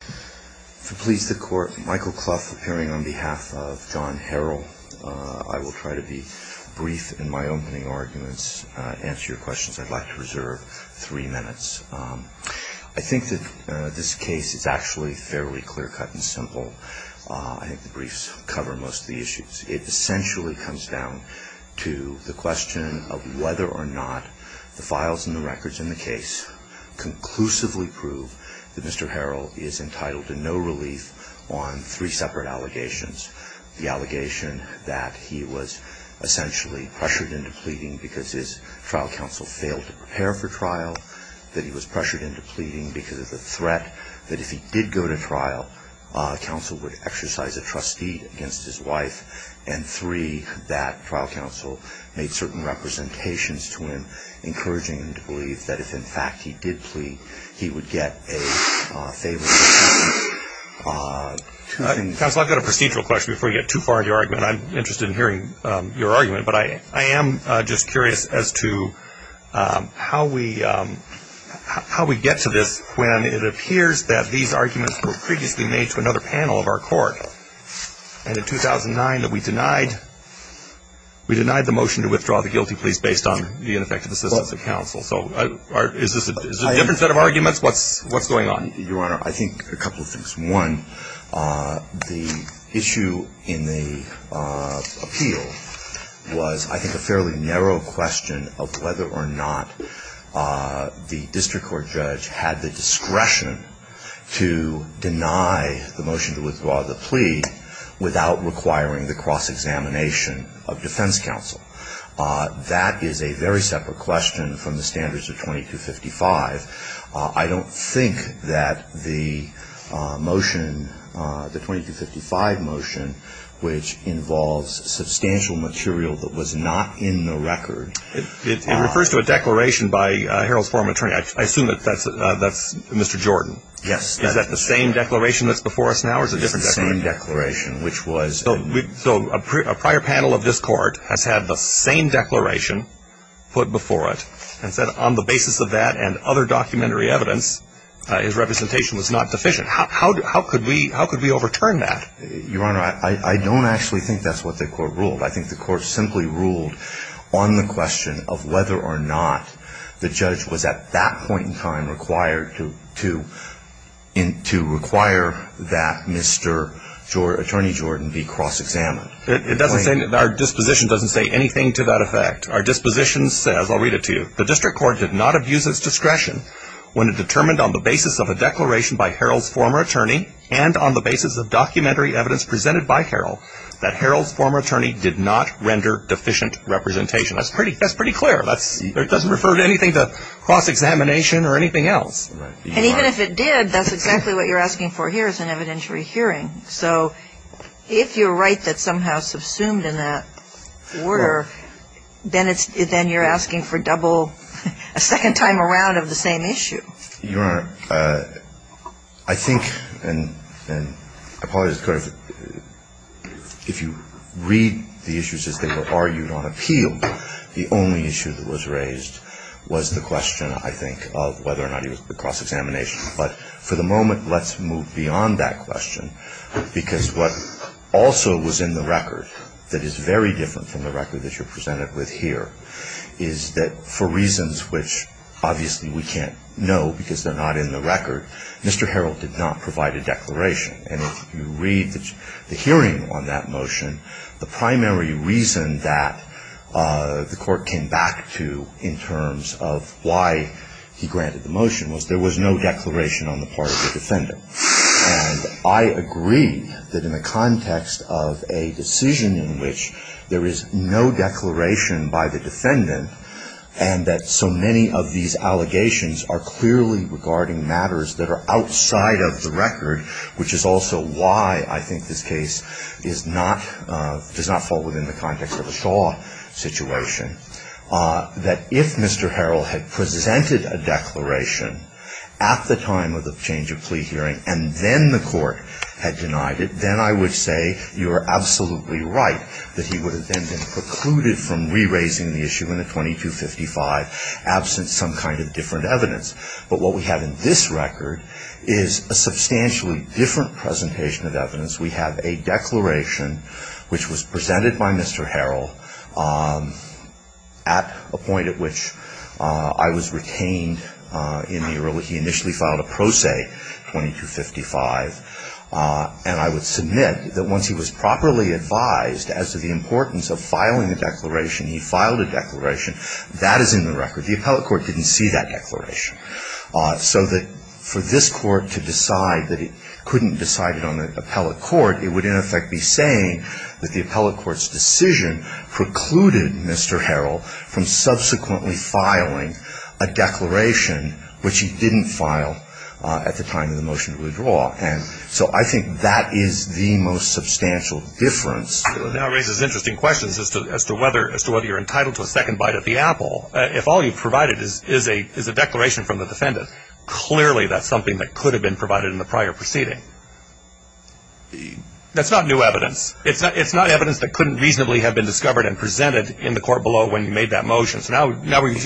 If it pleases the Court, Michael Clough appearing on behalf of John Harrell. I will try to be brief in my opening arguments, answer your questions. I'd like to reserve three minutes. I think that this case is actually fairly clear cut and simple. I think the briefs cover most of the issues. It essentially comes down to the question of whether or not the files and the records in the case conclusively prove that Mr. Harrell is in fact the murderer. Mr. Harrell is entitled to no relief on three separate allegations. The allegation that he was essentially pressured into pleading because his trial counsel failed to prepare for trial, that he was pressured into pleading because of the threat that if he did go to trial, counsel would exercise a trustee against his wife, and three, that trial counsel made certain representations to him encouraging him to believe that if in fact he did plead, he would get a favorable judgment. Counsel, I've got a procedural question before you get too far into your argument. I'm interested in hearing your argument, but I am just curious as to how we get to this when it appears that these arguments were previously made to another panel of our court, and in 2009 that we denied the motion to withdraw the guilty pleas based on the ineffective assistance of counsel. So is this a different set of arguments? What's going on? Your Honor, I think a couple of things. One, the issue in the appeal was, I think, a fairly narrow question of whether or not the district court judge had the discretion to deny the motion to withdraw the plea without requiring the cross-examination of defense counsel. That is a very separate question from the standards of 2255. I don't think that the motion, the 2255 motion, which involves substantial material that was not in the record. It refers to a declaration by Harold's former attorney. I assume that that's Mr. Jordan. Yes. Is that the same declaration that's before us now, or is it a different declaration? It's the same declaration, which was. So a prior panel of this court has had the same declaration put before it and said on the basis of that and other documentary evidence, his representation was not deficient. How could we overturn that? Your Honor, I don't actually think that's what the court ruled. I think the court simply ruled on the question of whether or not the judge was at that point in time required to require that Mr. Attorney Jordan be cross-examined. It doesn't say, our disposition doesn't say anything to that effect. Our disposition says, I'll read it to you. The district court did not abuse its discretion when it determined on the basis of a declaration by Harold's former attorney and on the basis of documentary evidence presented by Harold that Harold's former attorney did not render deficient representation. That's pretty, that's pretty clear. That's, it doesn't refer to anything to cross-examination or anything else. And even if it did, that's exactly what you're asking for here is an evidentiary hearing. So if you're right that somehow subsumed in that order, then it's, then you're asking for double, a second time around of the same issue. Your Honor, I think, and I apologize to the court, if you read the issues as they were argued on appeal, the only issue that was raised was the question, I think, of whether or not he was cross-examination. But for the moment, let's move beyond that question because what also was in the record that is very different from the record that you're presented with here is that for reasons which obviously we can't know because they're not in the record, Mr. Harold did not provide a declaration. And if you read the hearing on that motion, the primary reason that the court came back to in terms of why he granted the motion was there was no declaration on the part of the defendant. And I agree that in the context of a decision in which there is no declaration by the defendant and that so many of these allegations are clearly regarding matters that are outside of the record, which is something that's not in the record. It's also why I think this case is not, does not fall within the context of a Shaw situation, that if Mr. Harold had presented a declaration at the time of the change of plea hearing and then the court had denied it, then I would say you are absolutely right that he would have been precluded from re-raising the issue in a 2255 absent some kind of different evidence. But what we have in this record is a substantially different presentation of evidence. We have a declaration which was presented by Mr. Harold at a point at which I was retained in the early, he initially filed a pro se 2255. And I would submit that once he was properly advised as to the importance of filing a declaration, he filed a declaration, that is in the record. The appellate court didn't see that declaration. So that for this court to decide that it couldn't decide it on the appellate court, it would in effect be saying that the appellate court's decision precluded Mr. Harold from subsequently filing a declaration which he didn't file at the time of the motion to withdraw. And so I think that is the most substantial difference. Now raises interesting questions as to whether you're entitled to a second bite at the apple. If all you've provided is a declaration from the defendant, clearly that's something that could have been provided in the prior proceeding. That's not new evidence. It's not evidence that couldn't reasonably have been discovered and presented in the court below when you made that motion. So now we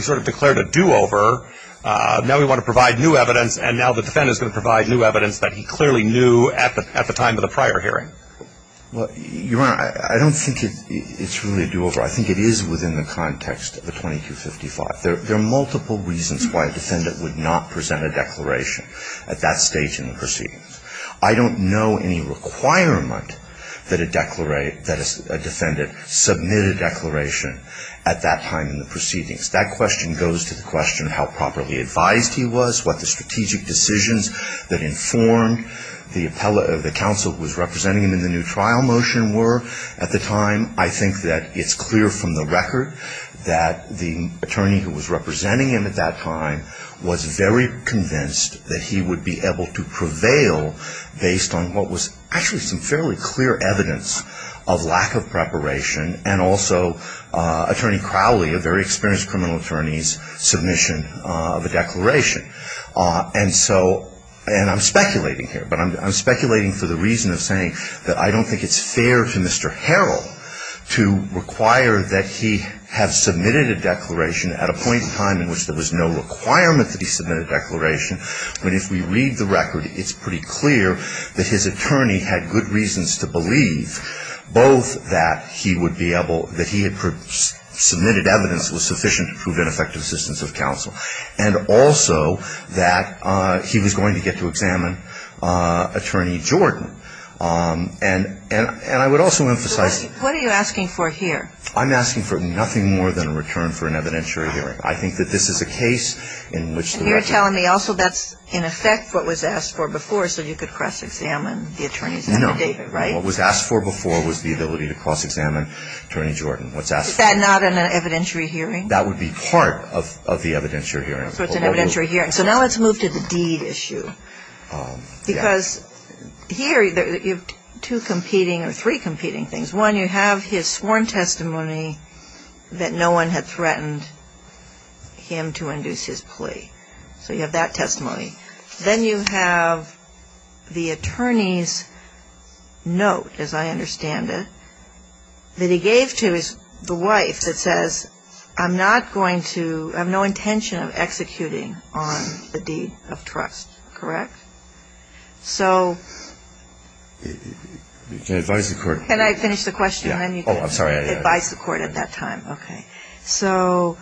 sort of declared a do-over. Now we want to provide new evidence and now the defendant is going to provide new evidence that he clearly knew at the time of the prior hearing. Well, Your Honor, I don't think it's really a do-over. I think it is within the context of the 2255. There are multiple reasons why a defendant would not present a declaration at that stage in the proceedings. I don't know any requirement that a defendant submit a declaration at that time in the proceedings. That question goes to the question of how properly advised he was, what the strategic decisions that informed the counsel who was representing him in the new trial motion were at the time. I think that it's clear from the record that the attorney who was representing him at that time was very convinced that he would be able to prevail based on what was actually some fairly clear evidence of lack of preparation and also Attorney Crowley, a very experienced criminal, would not have said that to the defendant. submission of a declaration. And so, and I'm speculating here, but I'm speculating for the reason of saying that I don't think it's fair to Mr. Harrell to require that he have submitted a declaration at a point in time in which there was no requirement that he submit a declaration, but if we read the record, it's pretty clear that his attorney had good reasons to believe both that he would be able, that he had submitted evidence that was sufficient to prove an effective assistance of counsel, and also that he was going to get to examine Attorney Jordan. And I would also emphasize... So what are you asking for here? I'm asking for nothing more than a return for an evidentiary hearing. I think that this is a case in which... You're telling me also that's in effect what was asked for before so you could cross-examine the attorneys after David, right? No. What was asked for before was the ability to cross-examine Attorney Jordan. Is that not an evidentiary hearing? That would be part of the evidentiary hearing. So it's an evidentiary hearing. So now let's move to the deed issue. Because here you have two competing or three competing things. One, you have his sworn testimony that no one had threatened him to induce his plea. So you have that testimony. Then you have the attorney's note, as I understand it, that he gave to his wife that says, I'm not going to, I have no intention of executing on the deed of trust. Correct? So... You can advise the court... Can I finish the question? Yeah. Oh, I'm sorry. You can advise the court at that time. Okay. So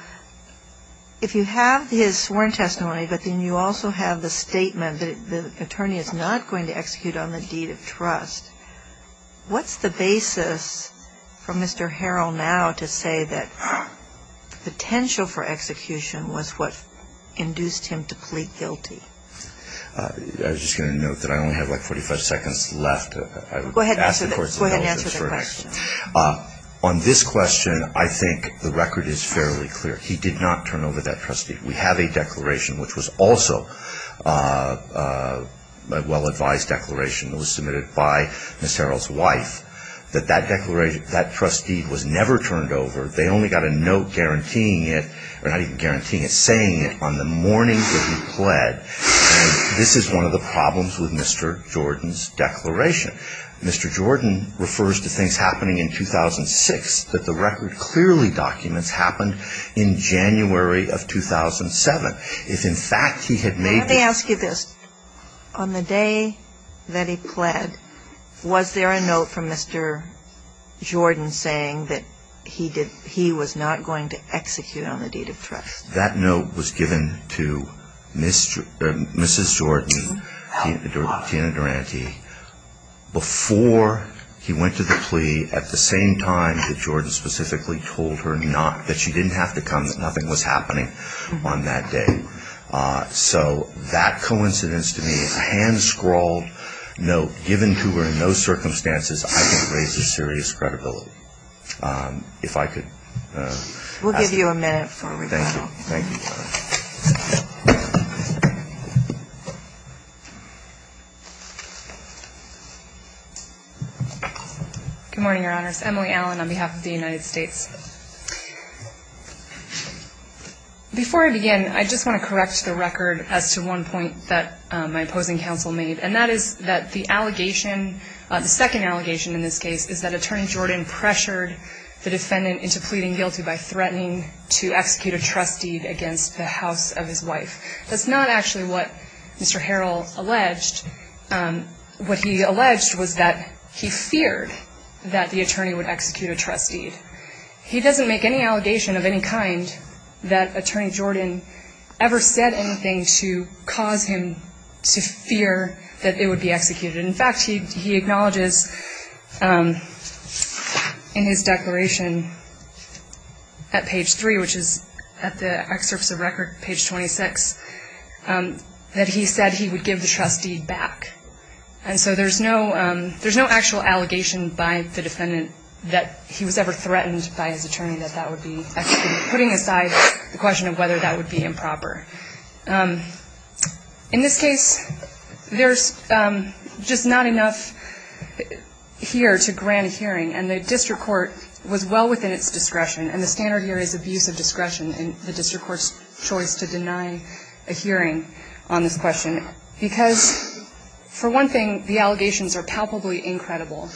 if you have his sworn testimony, but then you also have the statement that the attorney is not going to execute on the deed of trust, what's the basis for Mr. Harrell now to say that potential for execution was what induced him to plead guilty? I was just going to note that I only have like 45 seconds left. Go ahead and answer the question. On this question, I think the record is fairly clear. He did not turn over that trust deed. We have a declaration, which was also a well-advised declaration that was submitted by Mr. Harrell's wife, that that trust deed was never turned over. They only got a note guaranteeing it, or not even guaranteeing it, saying it on the morning that he pled. And this is one of the problems with Mr. Jordan's declaration. Mr. Jordan refers to things happening in 2006 that the record clearly documents happened in January of 2007. If, in fact, he had made... Let me ask you this. On the day that he pled, was there a note from Mr. Jordan saying that he was not going to execute on the deed of trust? That note was given to Mrs. Jordan, Tina Durante, before he went to the plea at the same time that Jordan specifically told her not, that she didn't have to come, that nothing was happening on that day. So that coincidence to me, a hand-scrawled note given to her in those circumstances, I think raises serious credibility. If I could... We'll give you a minute for rebuttal. Thank you. Thank you, Your Honor. Good morning, Your Honors. Emily Allen on behalf of the United States. Before I begin, I just want to correct the record as to one point that my opposing counsel made, and that is that the allegation, the second allegation in this case, is that Attorney Jordan pressured the defendant into pleading guilty by threatening to execute a trust deed against the house of his wife. That's not actually what Mr. Harrell alleged. What he alleged was that he feared that the attorney would execute a trust deed. He doesn't make any allegation of any kind that Attorney Jordan ever said anything to cause him to fear that it would be executed. In fact, he acknowledges in his declaration at page 3, which is at the excerpts of record, page 26, that he said he would give the trust deed back. And so there's no actual allegation by the defendant that he was ever threatened by his attorney that that would be executed, putting aside the question of whether that would be improper. In this case, there's just not enough here to grant a hearing, and the district court was well within its discretion, and the standard here is abuse of discretion in the district court's choice to deny a hearing on this question. Because, for one thing, the allegations are palpably incredible,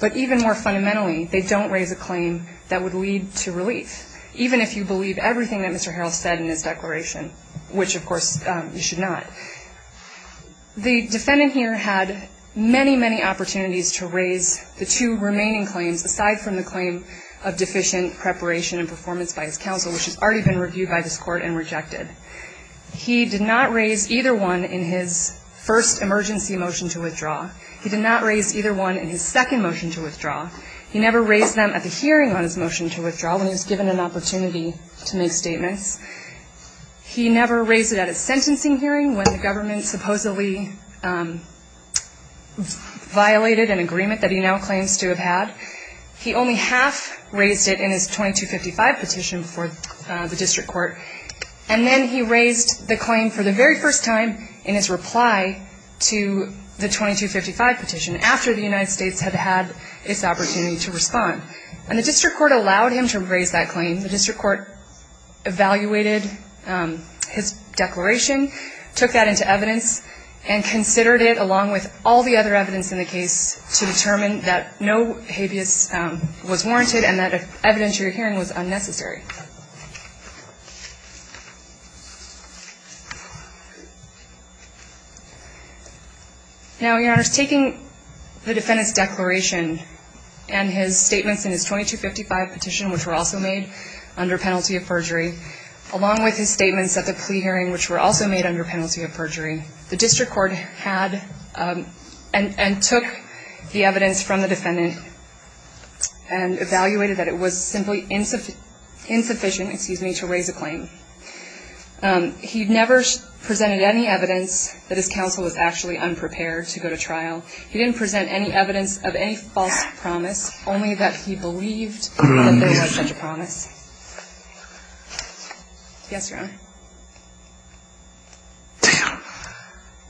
but even more fundamentally, they don't raise a claim that would lead to relief, even if you believe everything that Mr. Harrell said in his declaration. Which, of course, you should not. The defendant here had many, many opportunities to raise the two remaining claims, aside from the claim of deficient preparation and performance by his counsel, which has already been reviewed by this court and rejected. He did not raise either one in his first emergency motion to withdraw. He did not raise either one in his second motion to withdraw. He never raised them at the hearing on his motion to withdraw when he was given an opportunity to make statements. He never raised it at a sentencing hearing when the government supposedly violated an agreement that he now claims to have had. He only half raised it in his 2255 petition before the district court. And then he raised the claim for the very first time in his reply to the 2255 petition, after the United States had had its opportunity to respond. And the district court allowed him to raise that claim. The district court evaluated his declaration, took that into evidence, and considered it along with all the other evidence in the case to determine that no habeas was warranted and that the evidence you're hearing was unnecessary. Now, Your Honor, taking the defendant's declaration and his statements in his 2255 petition, which were also made under penalty of perjury, along with his statements at the plea hearing, which were also made under penalty of perjury, the district court had and took the evidence from the defendant and evaluated that it was simply insufficient to raise a claim. He never presented any evidence that his counsel was actually unprepared to go to trial. He didn't present any evidence of any false promise, only that he believed that they had such a promise. Yes, Your Honor. Damn.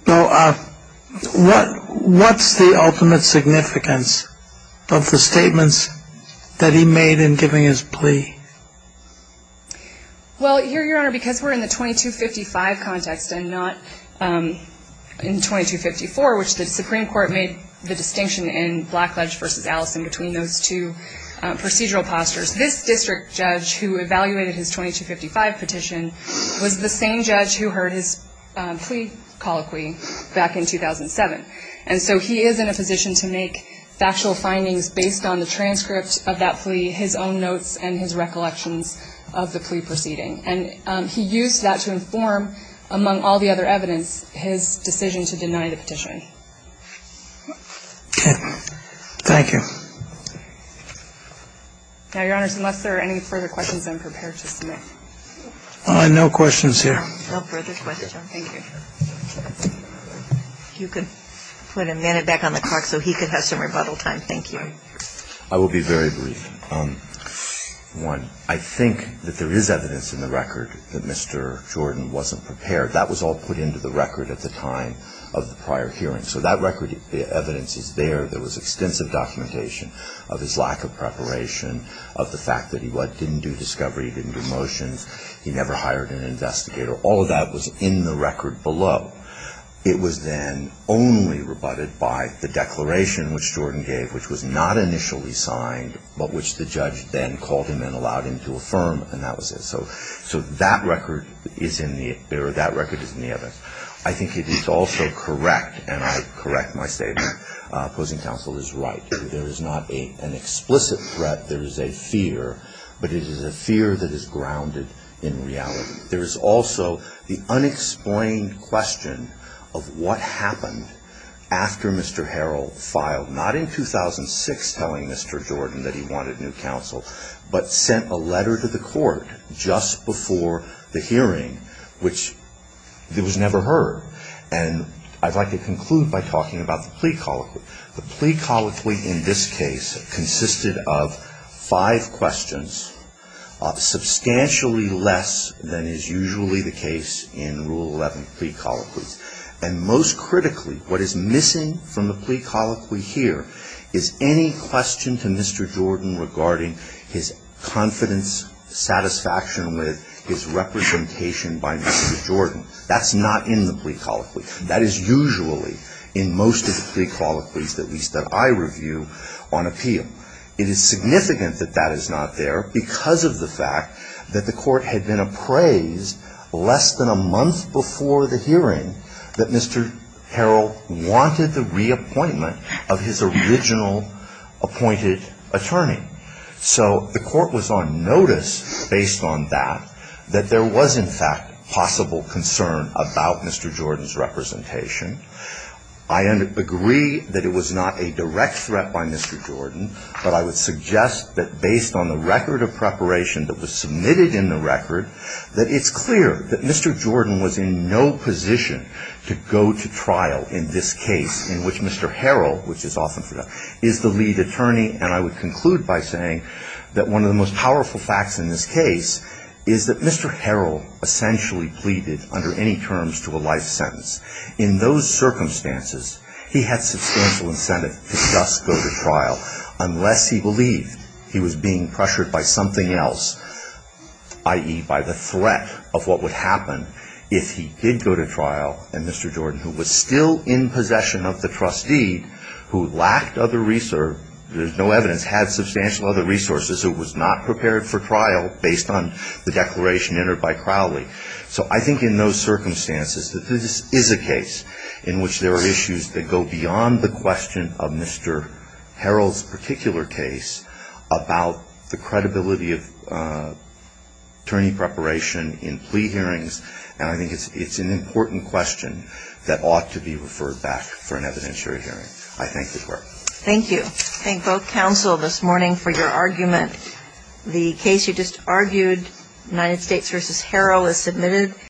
So what's the ultimate significance of the statements that he made in giving his plea? Well, here, Your Honor, because we're in the 2255 context and not in 2254, which the Supreme Court made the distinction in Blackledge v. Allison between those two procedural postures, this district judge who evaluated his 2255 petition was the same judge who heard his plea colloquy back in 2007. And so he is in a position to make factual findings based on the transcript of that plea, his own notes, and his recollections of the plea proceeding. And he used that to inform, among all the other evidence, his decision to deny the petition. Thank you. Now, Your Honor, unless there are any further questions, I'm prepared to submit. No questions here. No further questions. Thank you. If you could put a minute back on the clock so he could have some rebuttal time. Thank you. I will be very brief. One, I think that there is evidence in the record that Mr. Jordan wasn't prepared. That was all put into the record at the time of the prior hearing. So that record evidence is there. There was extensive documentation of his lack of preparation, of the fact that he didn't do discovery, he didn't do motions, he never hired an investigator. All of that was in the record below. It was then only rebutted by the declaration which Jordan gave, which was not initially signed, but which the judge then called him and allowed him to affirm, and that was it. So that record is in the evidence. I think it is also correct, and I correct my statement, opposing counsel is right. There is not an explicit threat. There is a fear, but it is a fear that is grounded in reality. There is also the unexplained question of what happened after Mr. Harrell filed, not in 2006 telling Mr. Jordan that he wanted new counsel, but sent a letter to the court just before the hearing, which was never heard. And I'd like to conclude by talking about the plea colloquy. The plea colloquy in this case consisted of five questions, substantially less than is usually the case in Rule 11 plea colloquies. And most critically, what is missing from the plea colloquy here is any question to Mr. Jordan regarding his confidence, satisfaction with his representation by Mr. Jordan. That's not in the plea colloquy. That is usually in most of the plea colloquies, at least that I review, on appeal. It is significant that that is not there because of the fact that the court had been appraised less than a month before the hearing that Mr. Harrell wanted the reappointment of his original appointed attorney. So the court was on notice, based on that, that there was, in fact, possible concern about Mr. Jordan's representation. I agree that it was not a direct threat by Mr. Jordan, but I would suggest that based on the record of preparation that was submitted in the record, that it's clear that Mr. Jordan was in no position to go to trial in this case, in which Mr. Harrell, which is often forgotten, is the lead attorney. And I would conclude by saying that one of the most powerful facts in this case is that Mr. Harrell essentially pleaded under any terms to a life sentence. In those circumstances, he had substantial incentive to just go to trial, unless he believed he was being pressured by something else, i.e., by the threat of what would happen if he did go to trial, and Mr. Jordan, who was still in possession of the trustee, who lacked other research, there's no evidence, had substantial other resources, who was not prepared for trial based on the declaration entered by Crowley. So I think in those circumstances that this is a case in which there are issues that go beyond the question of Mr. Harrell's particular case about the credibility of attorney preparation in plea hearings, and I think it's an important question that ought to be referred back for an evidentiary hearing. I thank the Court. Thank you. Thank both counsel this morning for your argument. The case you just argued, United States v. Harrell, is submitted.